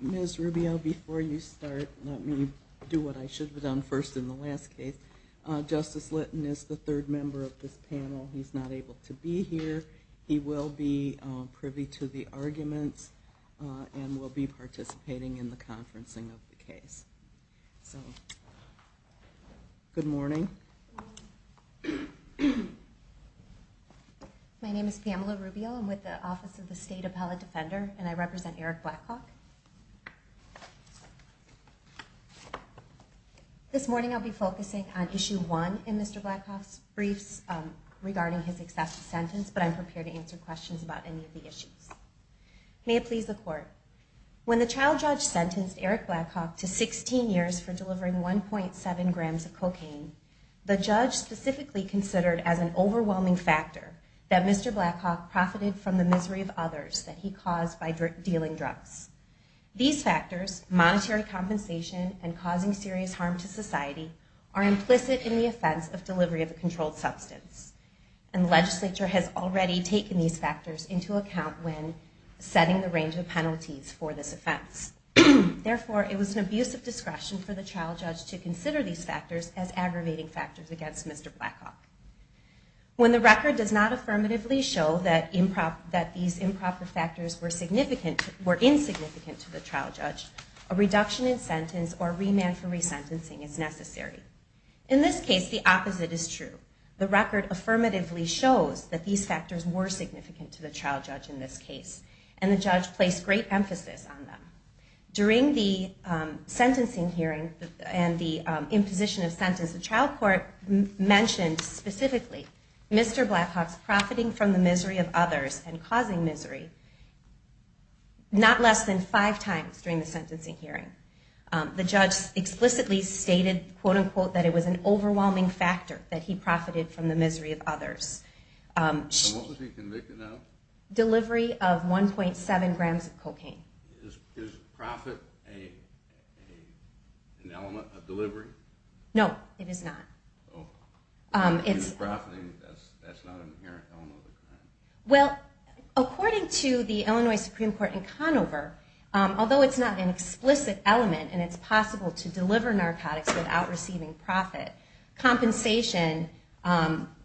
Ms. Rubio, before you start, let me do what I should have done first in the last case. Justice Litton is the third member of this panel. He's not able to be here. He will be participating in the conferencing of the case. Good morning. My name is Pamela Rubio. I'm with the Office of the State Appellate Defender, and I represent Eric Blackhawk. This morning I'll be focusing on Issue 1 in Mr. Blackhawk's briefs regarding his excessive sentence, but I'm prepared to answer questions about any of the issues. May it please the Court, when the child judge sentenced Eric Blackhawk to 16 years for delivering 1.7 grams of cocaine, the judge specifically considered as an overwhelming factor that Mr. Blackhawk profited from the misery of others that he caused by dealing drugs. These factors, monetary compensation and causing serious harm to society, are implicit in the offense of delivery of a controlled substance, and the judge had already taken these factors into account when setting the range of penalties for this offense. Therefore, it was an abuse of discretion for the child judge to consider these factors as aggravating factors against Mr. Blackhawk. When the record does not affirmatively show that these improper factors were insignificant to the child judge, a reduction in sentence or remand for resentencing is necessary. In this case, the opposite is true. The record affirmatively shows that these factors were significant to the child judge in this case, and the judge placed great emphasis on them. During the sentencing hearing and the imposition of sentence, the child court mentioned specifically Mr. Blackhawk's profiting from the misery of others and causing misery not less than five times during the sentencing hearing. The judge explicitly stated, quote unquote, that it was an delivery of 1.7 grams of cocaine. Is profit an element of delivery? No, it is not. So if he was profiting, that's not an inherent element of the crime? Well, according to the Illinois Supreme Court in Conover, although it's not an explicit element and it's not an explicit element, compensation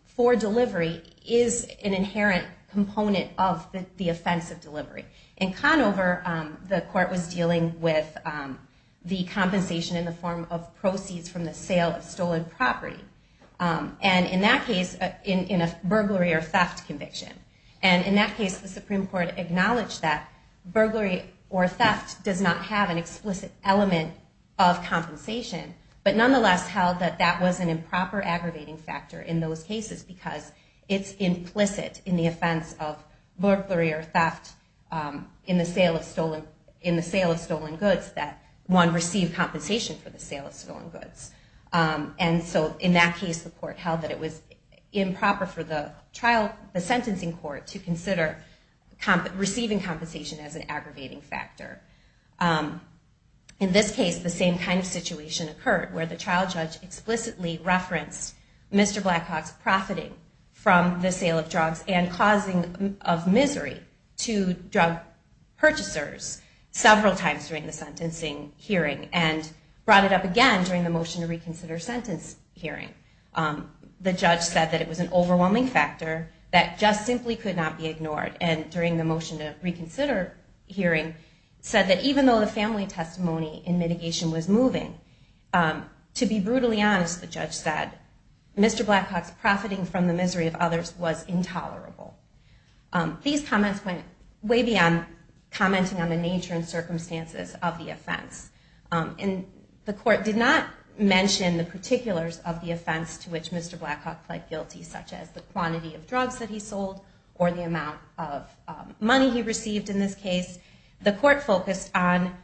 for delivery is an inherent component of the offense of delivery. In Conover, the court was dealing with the compensation in the form of proceeds from the sale of stolen property, and in that case, in a burglary or theft conviction. And in that case, the Supreme Court acknowledged that burglary or theft does not have an explicit element of compensation, but nonetheless held that that was an improper aggravating factor in those cases because it's implicit in the offense of burglary or theft in the sale of stolen goods that one received compensation for the sale of stolen goods. And so in that case, the court held that it was improper for the sentencing court to consider receiving compensation as an aggravating factor. In this case, the same kind of situation occurred where the child judge explicitly referenced Mr. Blackhawk's profiting from the sale of drugs and causing of misery to drug purchasers several times during the sentencing hearing and brought it up again during the motion to reconsider sentence hearing. The judge said that it was an overwhelming factor that just simply could not be ignored, and during the motion to reconsider hearing said that even though the family testimony in mitigation was moving, to be brutally honest, the judge said, Mr. Blackhawk's profiting from the misery of others was intolerable. These comments went way beyond commenting on the nature and circumstances of the offense. And the court did not mention the particulars of the offense to which Mr. Blackhawk pled guilty, such as the quantity of drugs that he sold or the amount of money he received in this case. The court focused on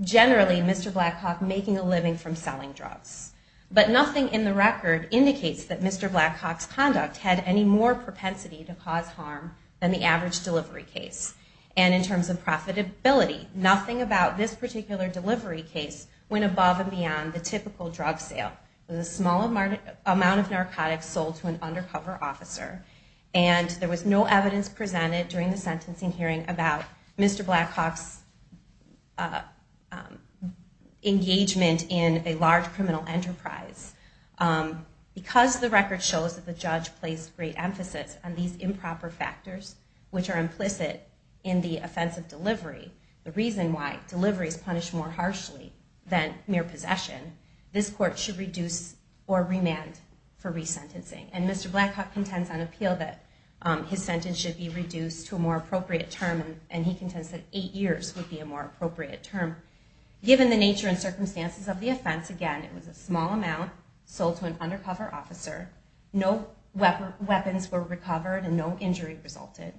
generally Mr. Blackhawk making a living from selling drugs. But nothing in the record indicates that Mr. Blackhawk's conduct had any more propensity to cause harm than the average delivery case. And in terms of profitability, nothing about this particular delivery case went above and beyond the typical drug sale. It was a small amount of narcotics sold to an undercover officer, and there was no evidence presented during the sentencing hearing about Mr. Blackhawk's engagement in a large criminal enterprise. Because the record shows that the judge placed great emphasis on these improper factors, which are implicit in the offense of delivery, the reason why delivery is punished more harshly than mere possession, this court should reduce or remand for resentencing. And Mr. Blackhawk contends on appeal that his involvement in this case was not intentional. Given the nature and circumstances of the offense, again, it was a small amount sold to an undercover officer, no weapons were recovered, and no injury resulted.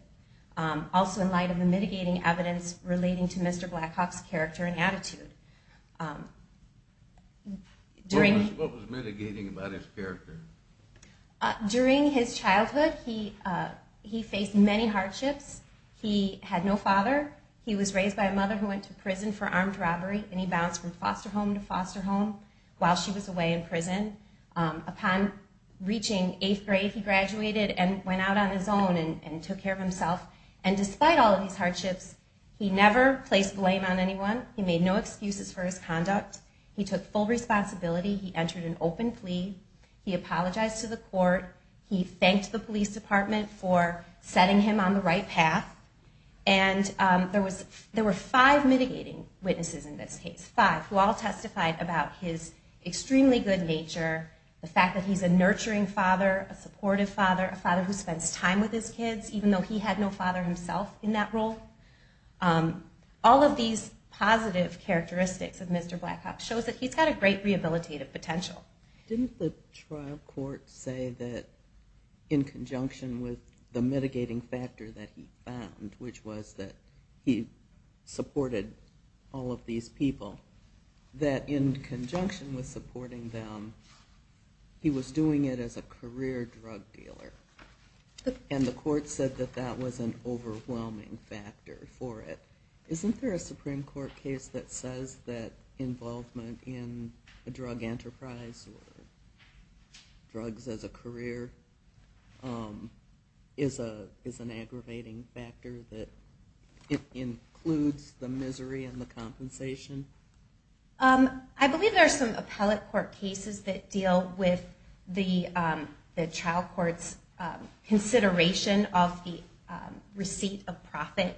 Also in light of the mitigating evidence relating to Mr. Blackhawk's character and attitude. What was mitigating about his character? During his childhood, he faced many hardships. He had no father. He was raised by a mother who went to prison for armed robbery, and he bounced from foster home to foster home while she was away in prison. Upon reaching eighth grade, he graduated and went out on his own and took care of himself. And despite all of these hardships, he never placed blame on anyone. He made no responsibility. He entered an open plea. He apologized to the court. He thanked the police department for setting him on the right path. And there were five mitigating witnesses in this case, five, who all testified about his extremely good nature, the fact that he's a nurturing father, a supportive father, a father who spends time with his kids, even though he had no father himself in that role. All of these positive characteristics of Mr. Blackhawk shows that he's got a great rehabilitative potential. Didn't the trial court say that in conjunction with the mitigating factor that he found, which was that he supported all of these people, that in conjunction with supporting them, he was doing it as a career drug dealer? And the court said that that was an overwhelming factor. Isn't there a Supreme Court case that says that involvement in a drug enterprise or drugs as a career is an aggravating factor, that it includes the misery and the compensation? I believe there are some appellate court cases that deal with the trial court's consideration of the receipt of profit.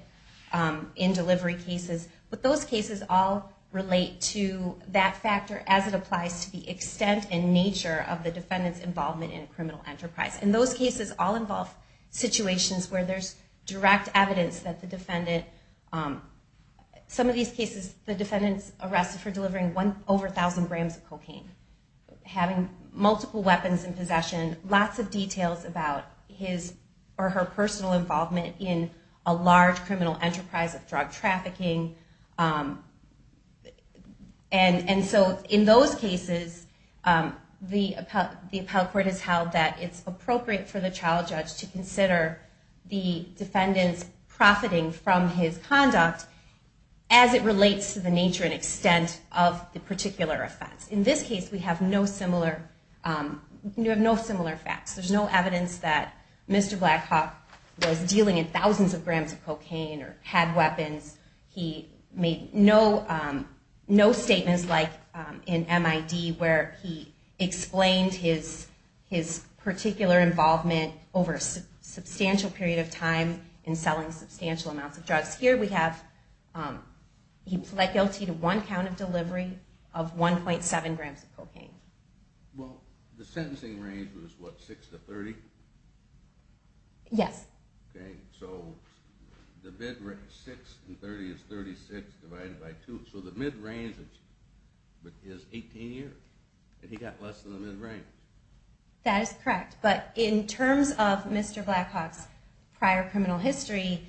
And I think that the Supreme Court's consideration of the receipt of profit is an important factor in delivering cases. But those cases all relate to that factor as it applies to the extent and nature of the defendant's involvement in a criminal enterprise. And those cases all involve situations where there's direct evidence that the defendant, some of these cases, the defendant's arrested for delivering over 1,000 grams of cocaine, having multiple weapons in possession, lots of details about his or her personal involvement in a large criminal enterprise of drug trafficking. And so in those cases, the appellate court has held that it's appropriate for the trial judge to consider the defendant's profiting from his conduct as it relates to the criminal enterprise. There's no evidence that Mr. Blackhawk was dealing in thousands of grams of cocaine or had weapons. He made no statements like in M.I.D. where he explained his particular involvement over a substantial period of time in selling substantial amounts of drugs. Here we have, he pled guilty to one count of delivery of 1.7 grams of cocaine. Well, the sentencing range was what, 6 to 30? Yes. Okay. So the mid-range, 6 and 30 is 36 divided by 2. So the mid-range is 18 years, and he got less than the mid-range. That is correct. But in terms of Mr. Blackhawk's prior criminal history,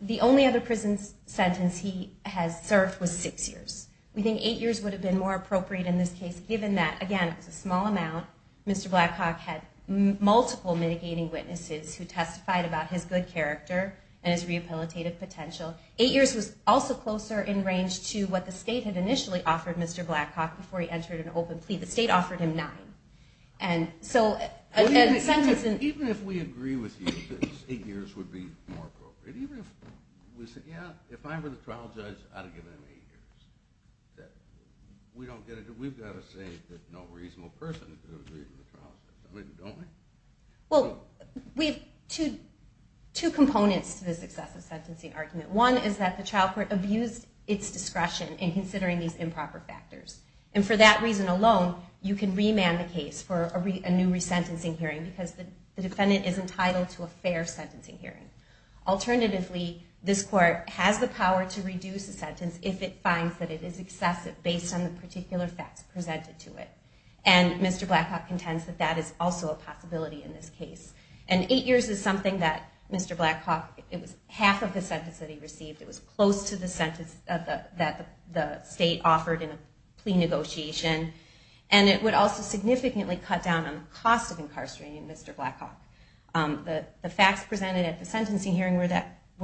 the only other prison sentence he has served was six years. So that's correct. We think eight years would have been more appropriate in this case, given that, again, it was a small amount. Mr. Blackhawk had multiple mitigating witnesses who testified about his good character and his rehabilitative potential. Eight years was also closer in range to what the state had initially offered Mr. Blackhawk before he entered an open plea. The state offered him nine. Even if we agree with you that eight years would be more appropriate, even if we said, yeah, if I were the trial judge, I'd have given him eight years. We don't get it. We've got to say that no reasonable person could have agreed with the trial judge. I mean, don't we? Well, we have two components to this excessive sentencing argument. One is that the trial court abused its discretion in considering these improper factors. And for that reason alone, you can remand the case for a new resentencing hearing, because the defendant is entitled to a fair sentencing hearing. Alternatively, this court has the power to reduce a sentence if it finds that it is excessive based on the particular facts presented to it. And Mr. Blackhawk contends that that is also a possibility in this case. And eight years is something that Mr. Blackhawk, it was half of the sentence that he received. It was close to the sentence that the state offered in a plea negotiation. And it would also significantly cut down on the cost of incarcerating Mr. Blackhawk. The facts presented at the sentencing hearing were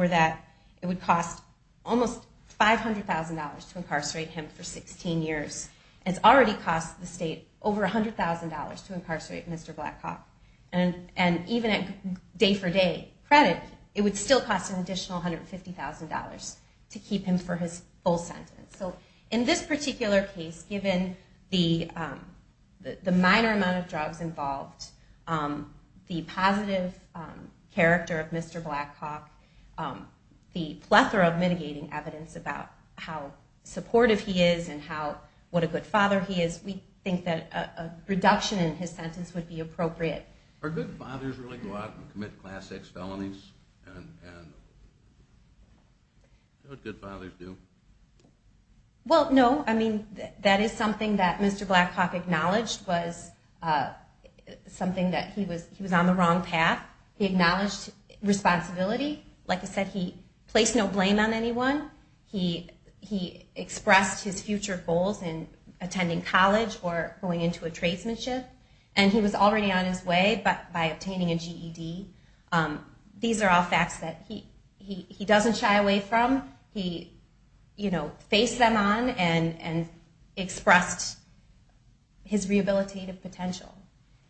that it would cost almost $500,000 to incarcerate him for 16 years. It's already cost the state over $100,000 to incarcerate Mr. Blackhawk. And even at day-for-day credit, it would still cost an additional $150,000 to keep him for his full sentence. So in this particular case, given the minor amount of drugs involved, the positive character of Mr. Blackhawk, the plethora of mitigating evidence about how supportive he is and what a good father he is, we think that a reduction in his sentence would be appropriate. Are good fathers really go out and commit class X felonies? Good fathers do. Well, no. I mean, that is something that Mr. Blackhawk acknowledged was something that he was on the wrong path. He acknowledged responsibility. Like I said, he placed no blame on anyone. He expressed his future goals in attending college or going into a tradesmanship. And he was already on his way by obtaining a GED. These are all facts that he doesn't shy away from. He, you know, faced them, and he was willing to take them on, and expressed his rehabilitative potential.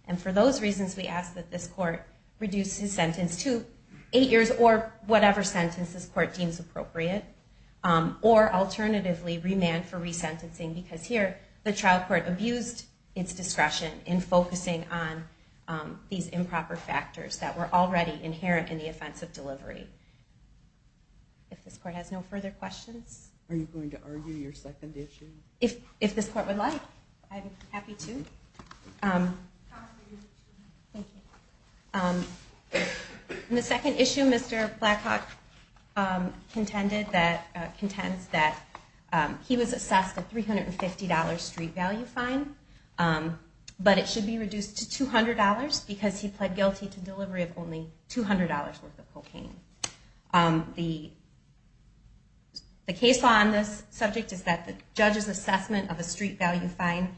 And for those reasons, we ask that this court reduce his sentence to eight years or whatever sentence this court deems appropriate. Or alternatively, remand for resentencing, because here, the trial court abused its discretion in focusing on these improper factors that were already inherent in the offense of delivery. If this court has no further questions. Are you going to argue your second issue? If this court would like, I'm happy to. The second issue, Mr. Blackhawk contends that he was assessed a $350 street value fine, but it should be reduced to $200 because he pled $300. The case on this subject is that the judge's assessment of a street value fine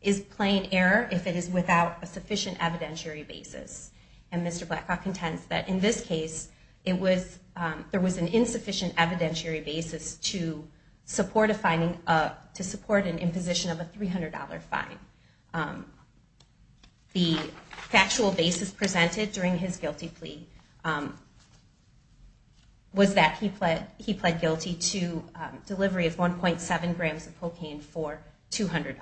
is plain error if it is without a sufficient evidentiary basis. And Mr. Blackhawk contends that in this case, there was an insufficient evidentiary basis to support an imposition of a $300 fine. The defendant pleaded guilty to delivery of 1.7 grams of cocaine for $200.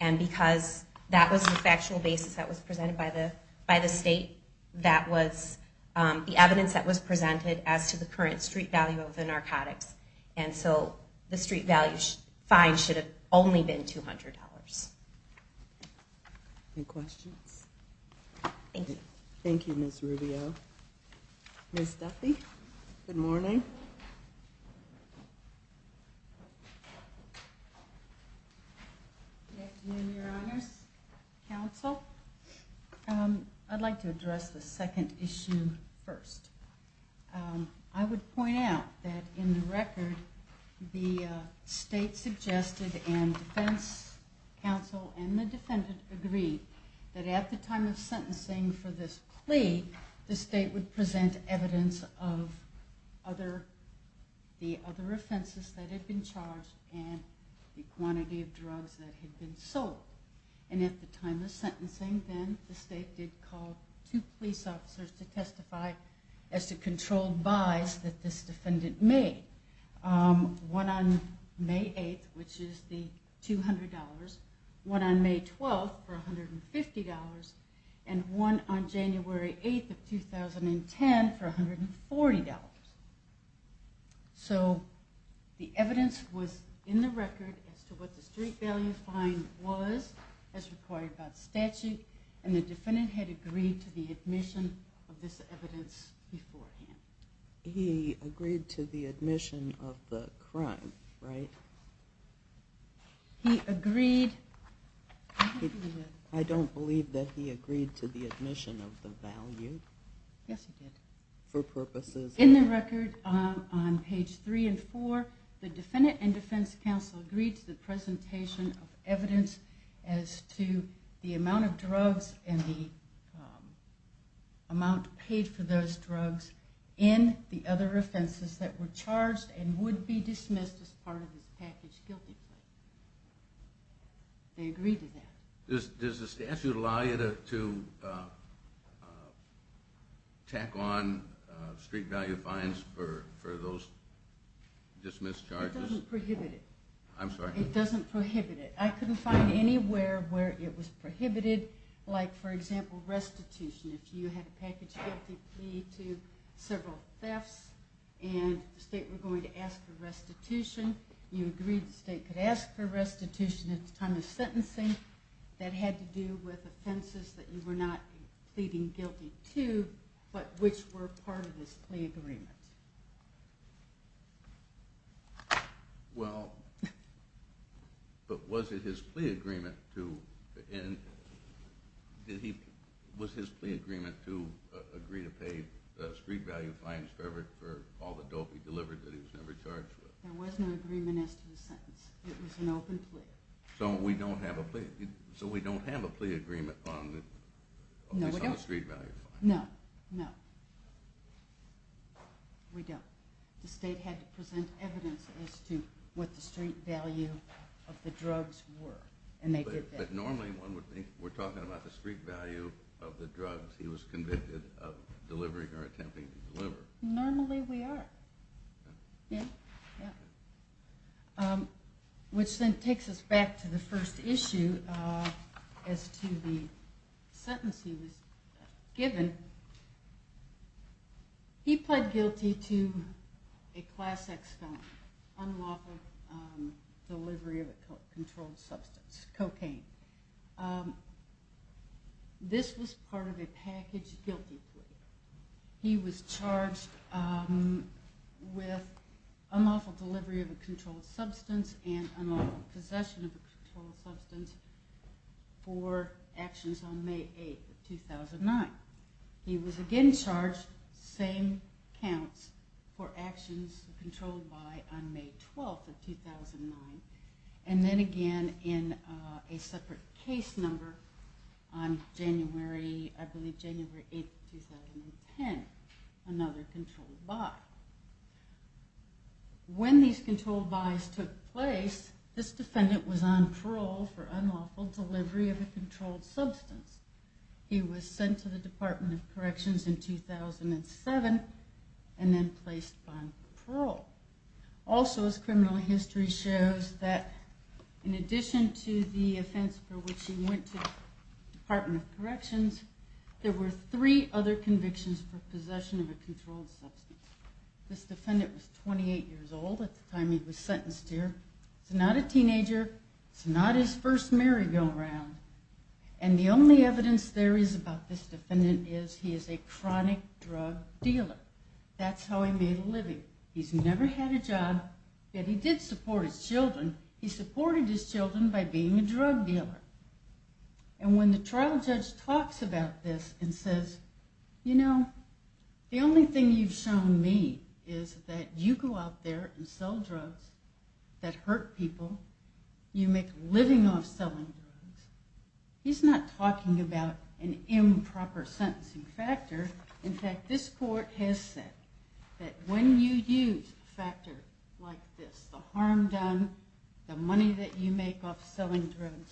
And because that was the factual basis that was presented by the state, that was the evidence that was presented as to the current street value of the narcotics. And so the street value fine should have only been $200. Any questions? Thank you, Ms. Rubio. Ms. Duffy, good morning. Good afternoon, Your Honors. Counsel, I'd like to address the second issue first. I would like to address the second issue first. Counsel and the defendant agreed that at the time of sentencing for this plea, the state would present evidence of the other offenses that had been charged and the quantity of drugs that had been sold. And at the time of sentencing, then, the state did call two police officers to testify as to controlled buys that this defendant made. One on May 8th, which is the $200 fine, and one on May 9th, which is the $200 fine. One on May 12th for $150, and one on January 8th of 2010 for $140. So the evidence was in the record as to what the street value fine was as required by the statute, and the defendant had agreed to the admission of this evidence beforehand. He agreed to the admission of the evidence. I don't believe that he agreed to the admission of the value. Yes, he did. For purposes. In the record on page 3 and 4, the defendant and defense counsel agreed to the presentation of evidence as to the amount of drugs and the amount paid for those drugs in the other offenses that were charged and would be dismissed as part of his package guilty plea. They agreed to that. Does the statute allow you to tack on street value fines for those dismissed charges? It doesn't prohibit it. I'm sorry? It doesn't prohibit it. I couldn't find anywhere where it was prohibited, like for example restitution. If you had a package guilty plea, you agreed the state could ask for restitution at the time of sentencing. That had to do with offenses that you were not pleading guilty to, but which were part of this plea agreement. Well, but was it his plea agreement to, was his plea agreement to agree to pay street value fines for all the dope he delivered that he was never charged with? There was no agreement as to the sentence. It was an open plea. So we don't have a plea agreement on the street value fine? No, no. We don't. The state had to present evidence as to what the street value of the drugs were. But normally one would think we're talking about the street value of the drugs he was convicted of delivering or attempting to deliver. Normally we are. Which then takes us back to the first issue as to the sentence he was given. He pled guilty to a class X felony, unlawful delivery of a controlled substance, cocaine. This was part of a package guilty plea. He was charged with unlawful delivery of a controlled substance and unlawful possession of a controlled substance for actions on May 8th of 2009. He was again charged same counts for actions controlled by on May 12th of 2009. And then again in a separate case number on January, I believe January 8th of 2009. He was charged with unlawful delivery of a controlled substance on May 8th of 2010. Another controlled buy. When these controlled buys took place, this defendant was on parole for unlawful delivery of a controlled substance. He was sent to the Department of Corrections in 2007 and then placed on parole. Also his criminal history shows that in addition to the offense for which he went to the Department of Corrections, there were three other convictions for possession of a controlled substance. This defendant was 28 years old at the time he was sentenced here. He's not a teenager. It's not his first merry-go-round. And the only evidence there is about this defendant is he is a chronic drug dealer. That's how he made a living. He's never had a job, yet he did support his children. He supported his children by being a drug dealer. And when the trial judge talks about this and says, you know, the only thing you've shown me is that you go out there and sell drugs that hurt people, you make a living off selling drugs, he's not talking about an improper sentencing factor. In fact, this court has said that when you use a factor like this, the harm done, the money that you make off selling drugs, you're making a living.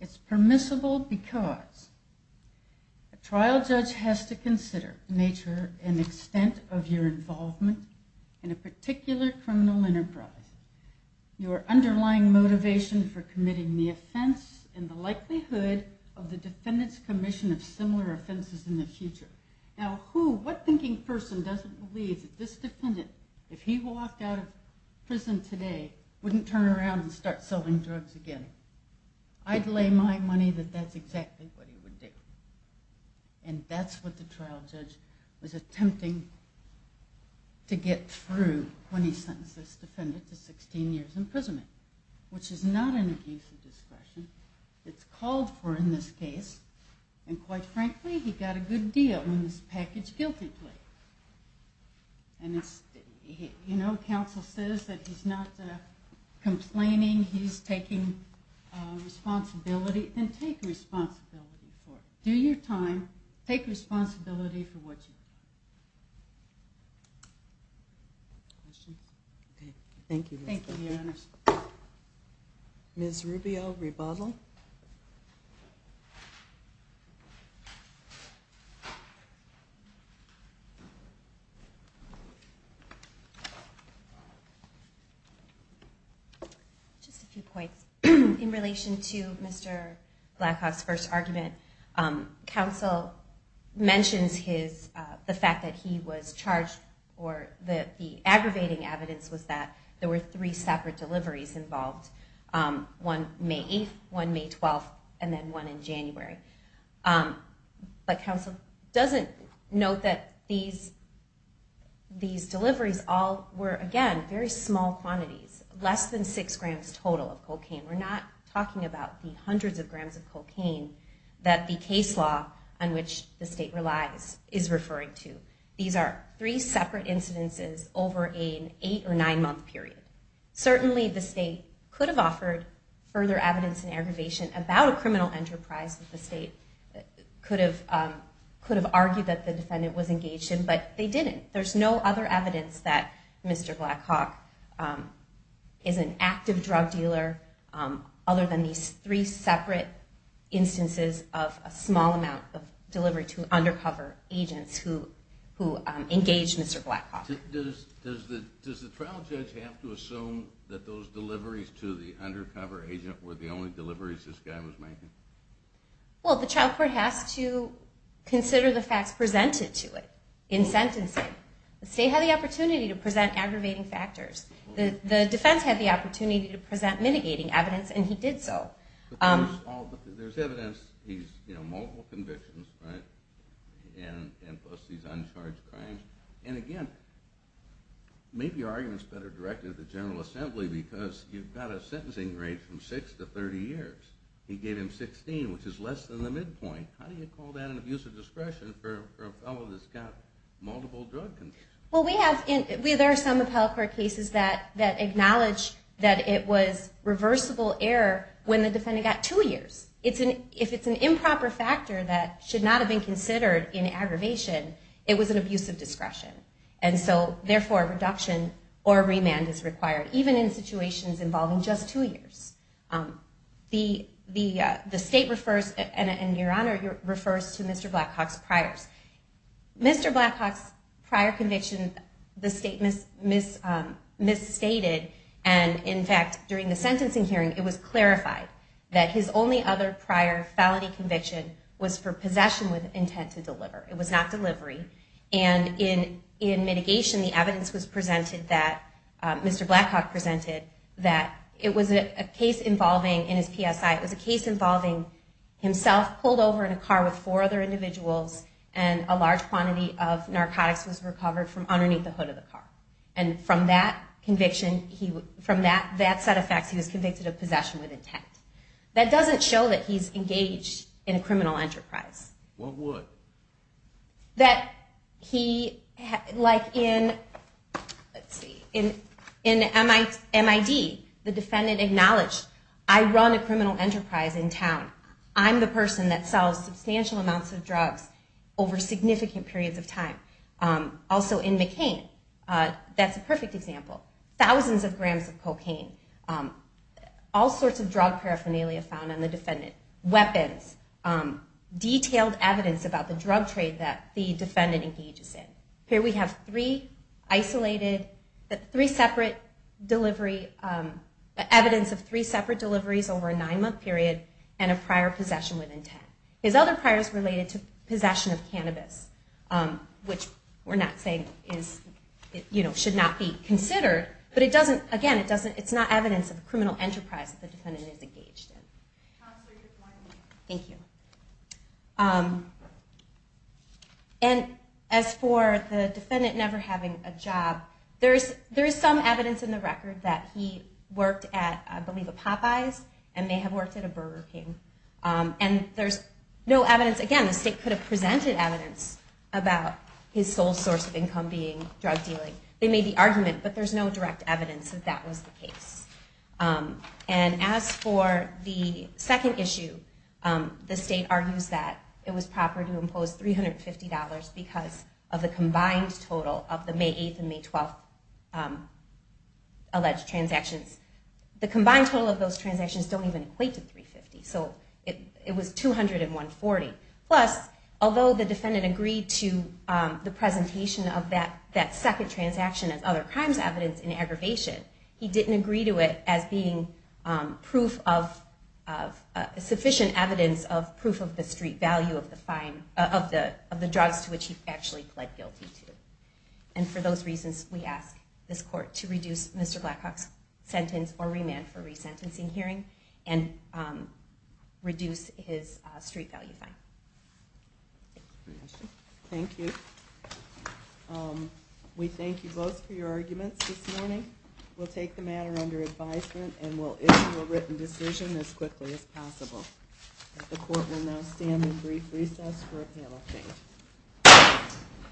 It's permissible because a trial judge has to consider the nature and extent of your involvement in a particular criminal enterprise. Your underlying motivation for committing the offense and the likelihood of the defendant's commission of similar offenses in the future. Now who, what thinking person doesn't believe that this defendant, if he walked out of prison today, wouldn't turn around and start selling drugs again? I'd lay my case against him. I'd lay my case against him. I'd lay my money that that's exactly what he would do. And that's what the trial judge was attempting to get through when he sentenced this defendant to 16 years imprisonment, which is not an abuse of discretion. It's called for in this case. And quite frankly, he got a good deal in this package guilty plea. You know, counsel says that he's not going to do it again. So if you're going to take responsibility, then take responsibility for it. Do your time. Take responsibility for what you've done. Thank you. Ms. Rubio, rebuttal. Just a few points. In relation to Mr. Blackhoff's first argument, counsel mentions the fact that he was charged or the aggravating evidence was that there were three separate incidents, one on May 12th and then one in January. But counsel doesn't note that these deliveries all were, again, very small quantities, less than six grams total of cocaine. We're not talking about the hundreds of grams of cocaine that the case law on which the state relies is referring to. These are three separate incidences over an eight or nine month period. Certainly the state could have offered further evidence in aggravation, but that's not the case. Counsel's investigation about a criminal enterprise that the state could have argued that the defendant was engaged in, but they didn't. There's no other evidence that Mr. Blackhoff is an active drug dealer other than these three separate instances of a small amount of delivery to undercover agents who engaged Mr. Blackhoff. Does the trial judge have to assume that those deliveries to the undercover agent were the only deliveries that the defendant was engaged in? Well, the trial court has to consider the facts presented to it in sentencing. The state had the opportunity to present aggravating factors. The defense had the opportunity to present mitigating evidence, and he did so. But there's evidence, he's, you know, multiple convictions, right, and plus these uncharged crimes. And again, maybe your argument's better directed to the General Assembly because you've got a sentencing rate from six to 30 years. He gave him 16, which is less than the midpoint. How do you call that an abuse of discretion for a fellow that's got multiple drug convictions? Well, there are some appellate court cases that acknowledge that it was reversible error when the defendant got two years. If it's an improper factor that should not have been considered in aggravation, it was an abuse of discretion. And so, therefore, reduction or remand is required, even if the defendant was convicted. Even in situations involving just two years. The state refers, and Your Honor, it refers to Mr. Blackhawk's priors. Mr. Blackhawk's prior conviction, the state misstated, and in fact, during the sentencing hearing, it was clarified that his only other prior felony conviction was for possession with intent to deliver. It was not delivery. And in mitigation, the evidence was presented that Mr. Blackhawk presented a misdemeanor felony conviction for possession with intent to deliver. And the evidence was presented that it was a case involving, in his PSI, it was a case involving himself pulled over in a car with four other individuals and a large quantity of narcotics was recovered from underneath the hood of the car. And from that conviction, from that set of facts, he was convicted of possession with intent. That doesn't show that he's engaged in a criminal enterprise. What would? That he, like in, let's see, in MID, the defendant acknowledged, I run a criminal enterprise in town. I'm the person that sells substantial amounts of drugs over significant periods of time. Also in McCain, that's a perfect example. Thousands of grams of cocaine. All sorts of drug paraphernalia found on the defendant. Weapons. Detailed evidence about the drug trade that the defendant engages in. Here we have three isolated, three separate delivery, evidence of three separate deliveries over a nine month period and a prior possession with intent. His other prior is related to possession of cannabis, which we're not saying is, you know, should not be considered. But it doesn't, again, it doesn't, it's not evidence of possession. Thank you. And as for the defendant never having a job, there's some evidence in the record that he worked at, I believe, a Popeye's and they have worked at a Burger King. And there's no evidence, again, the state could have presented evidence about his sole source of income being drug dealing. They made the argument, but there's no direct evidence that that was the case. And as for the defendant's second issue, the state argues that it was proper to impose $350 because of the combined total of the May 8th and May 12th alleged transactions. The combined total of those transactions don't even equate to $350. So it was $200 and $140. Plus, although the defendant agreed to the presentation of that second transaction as other crimes evidence in aggravation, he didn't agree to it as being proof of sufficient evidence of proof of the street value of the drugs to which he actually pled guilty to. And for those reasons, we ask this court to reduce Mr. Blackhawk's sentence or remand for resentencing hearing and reduce his street value fine. Thank you. We thank you both for your arguments this morning. We'll take the matter under advisement and we'll issue a written decision as quickly as possible. The court will now stand in brief recess for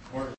appeal.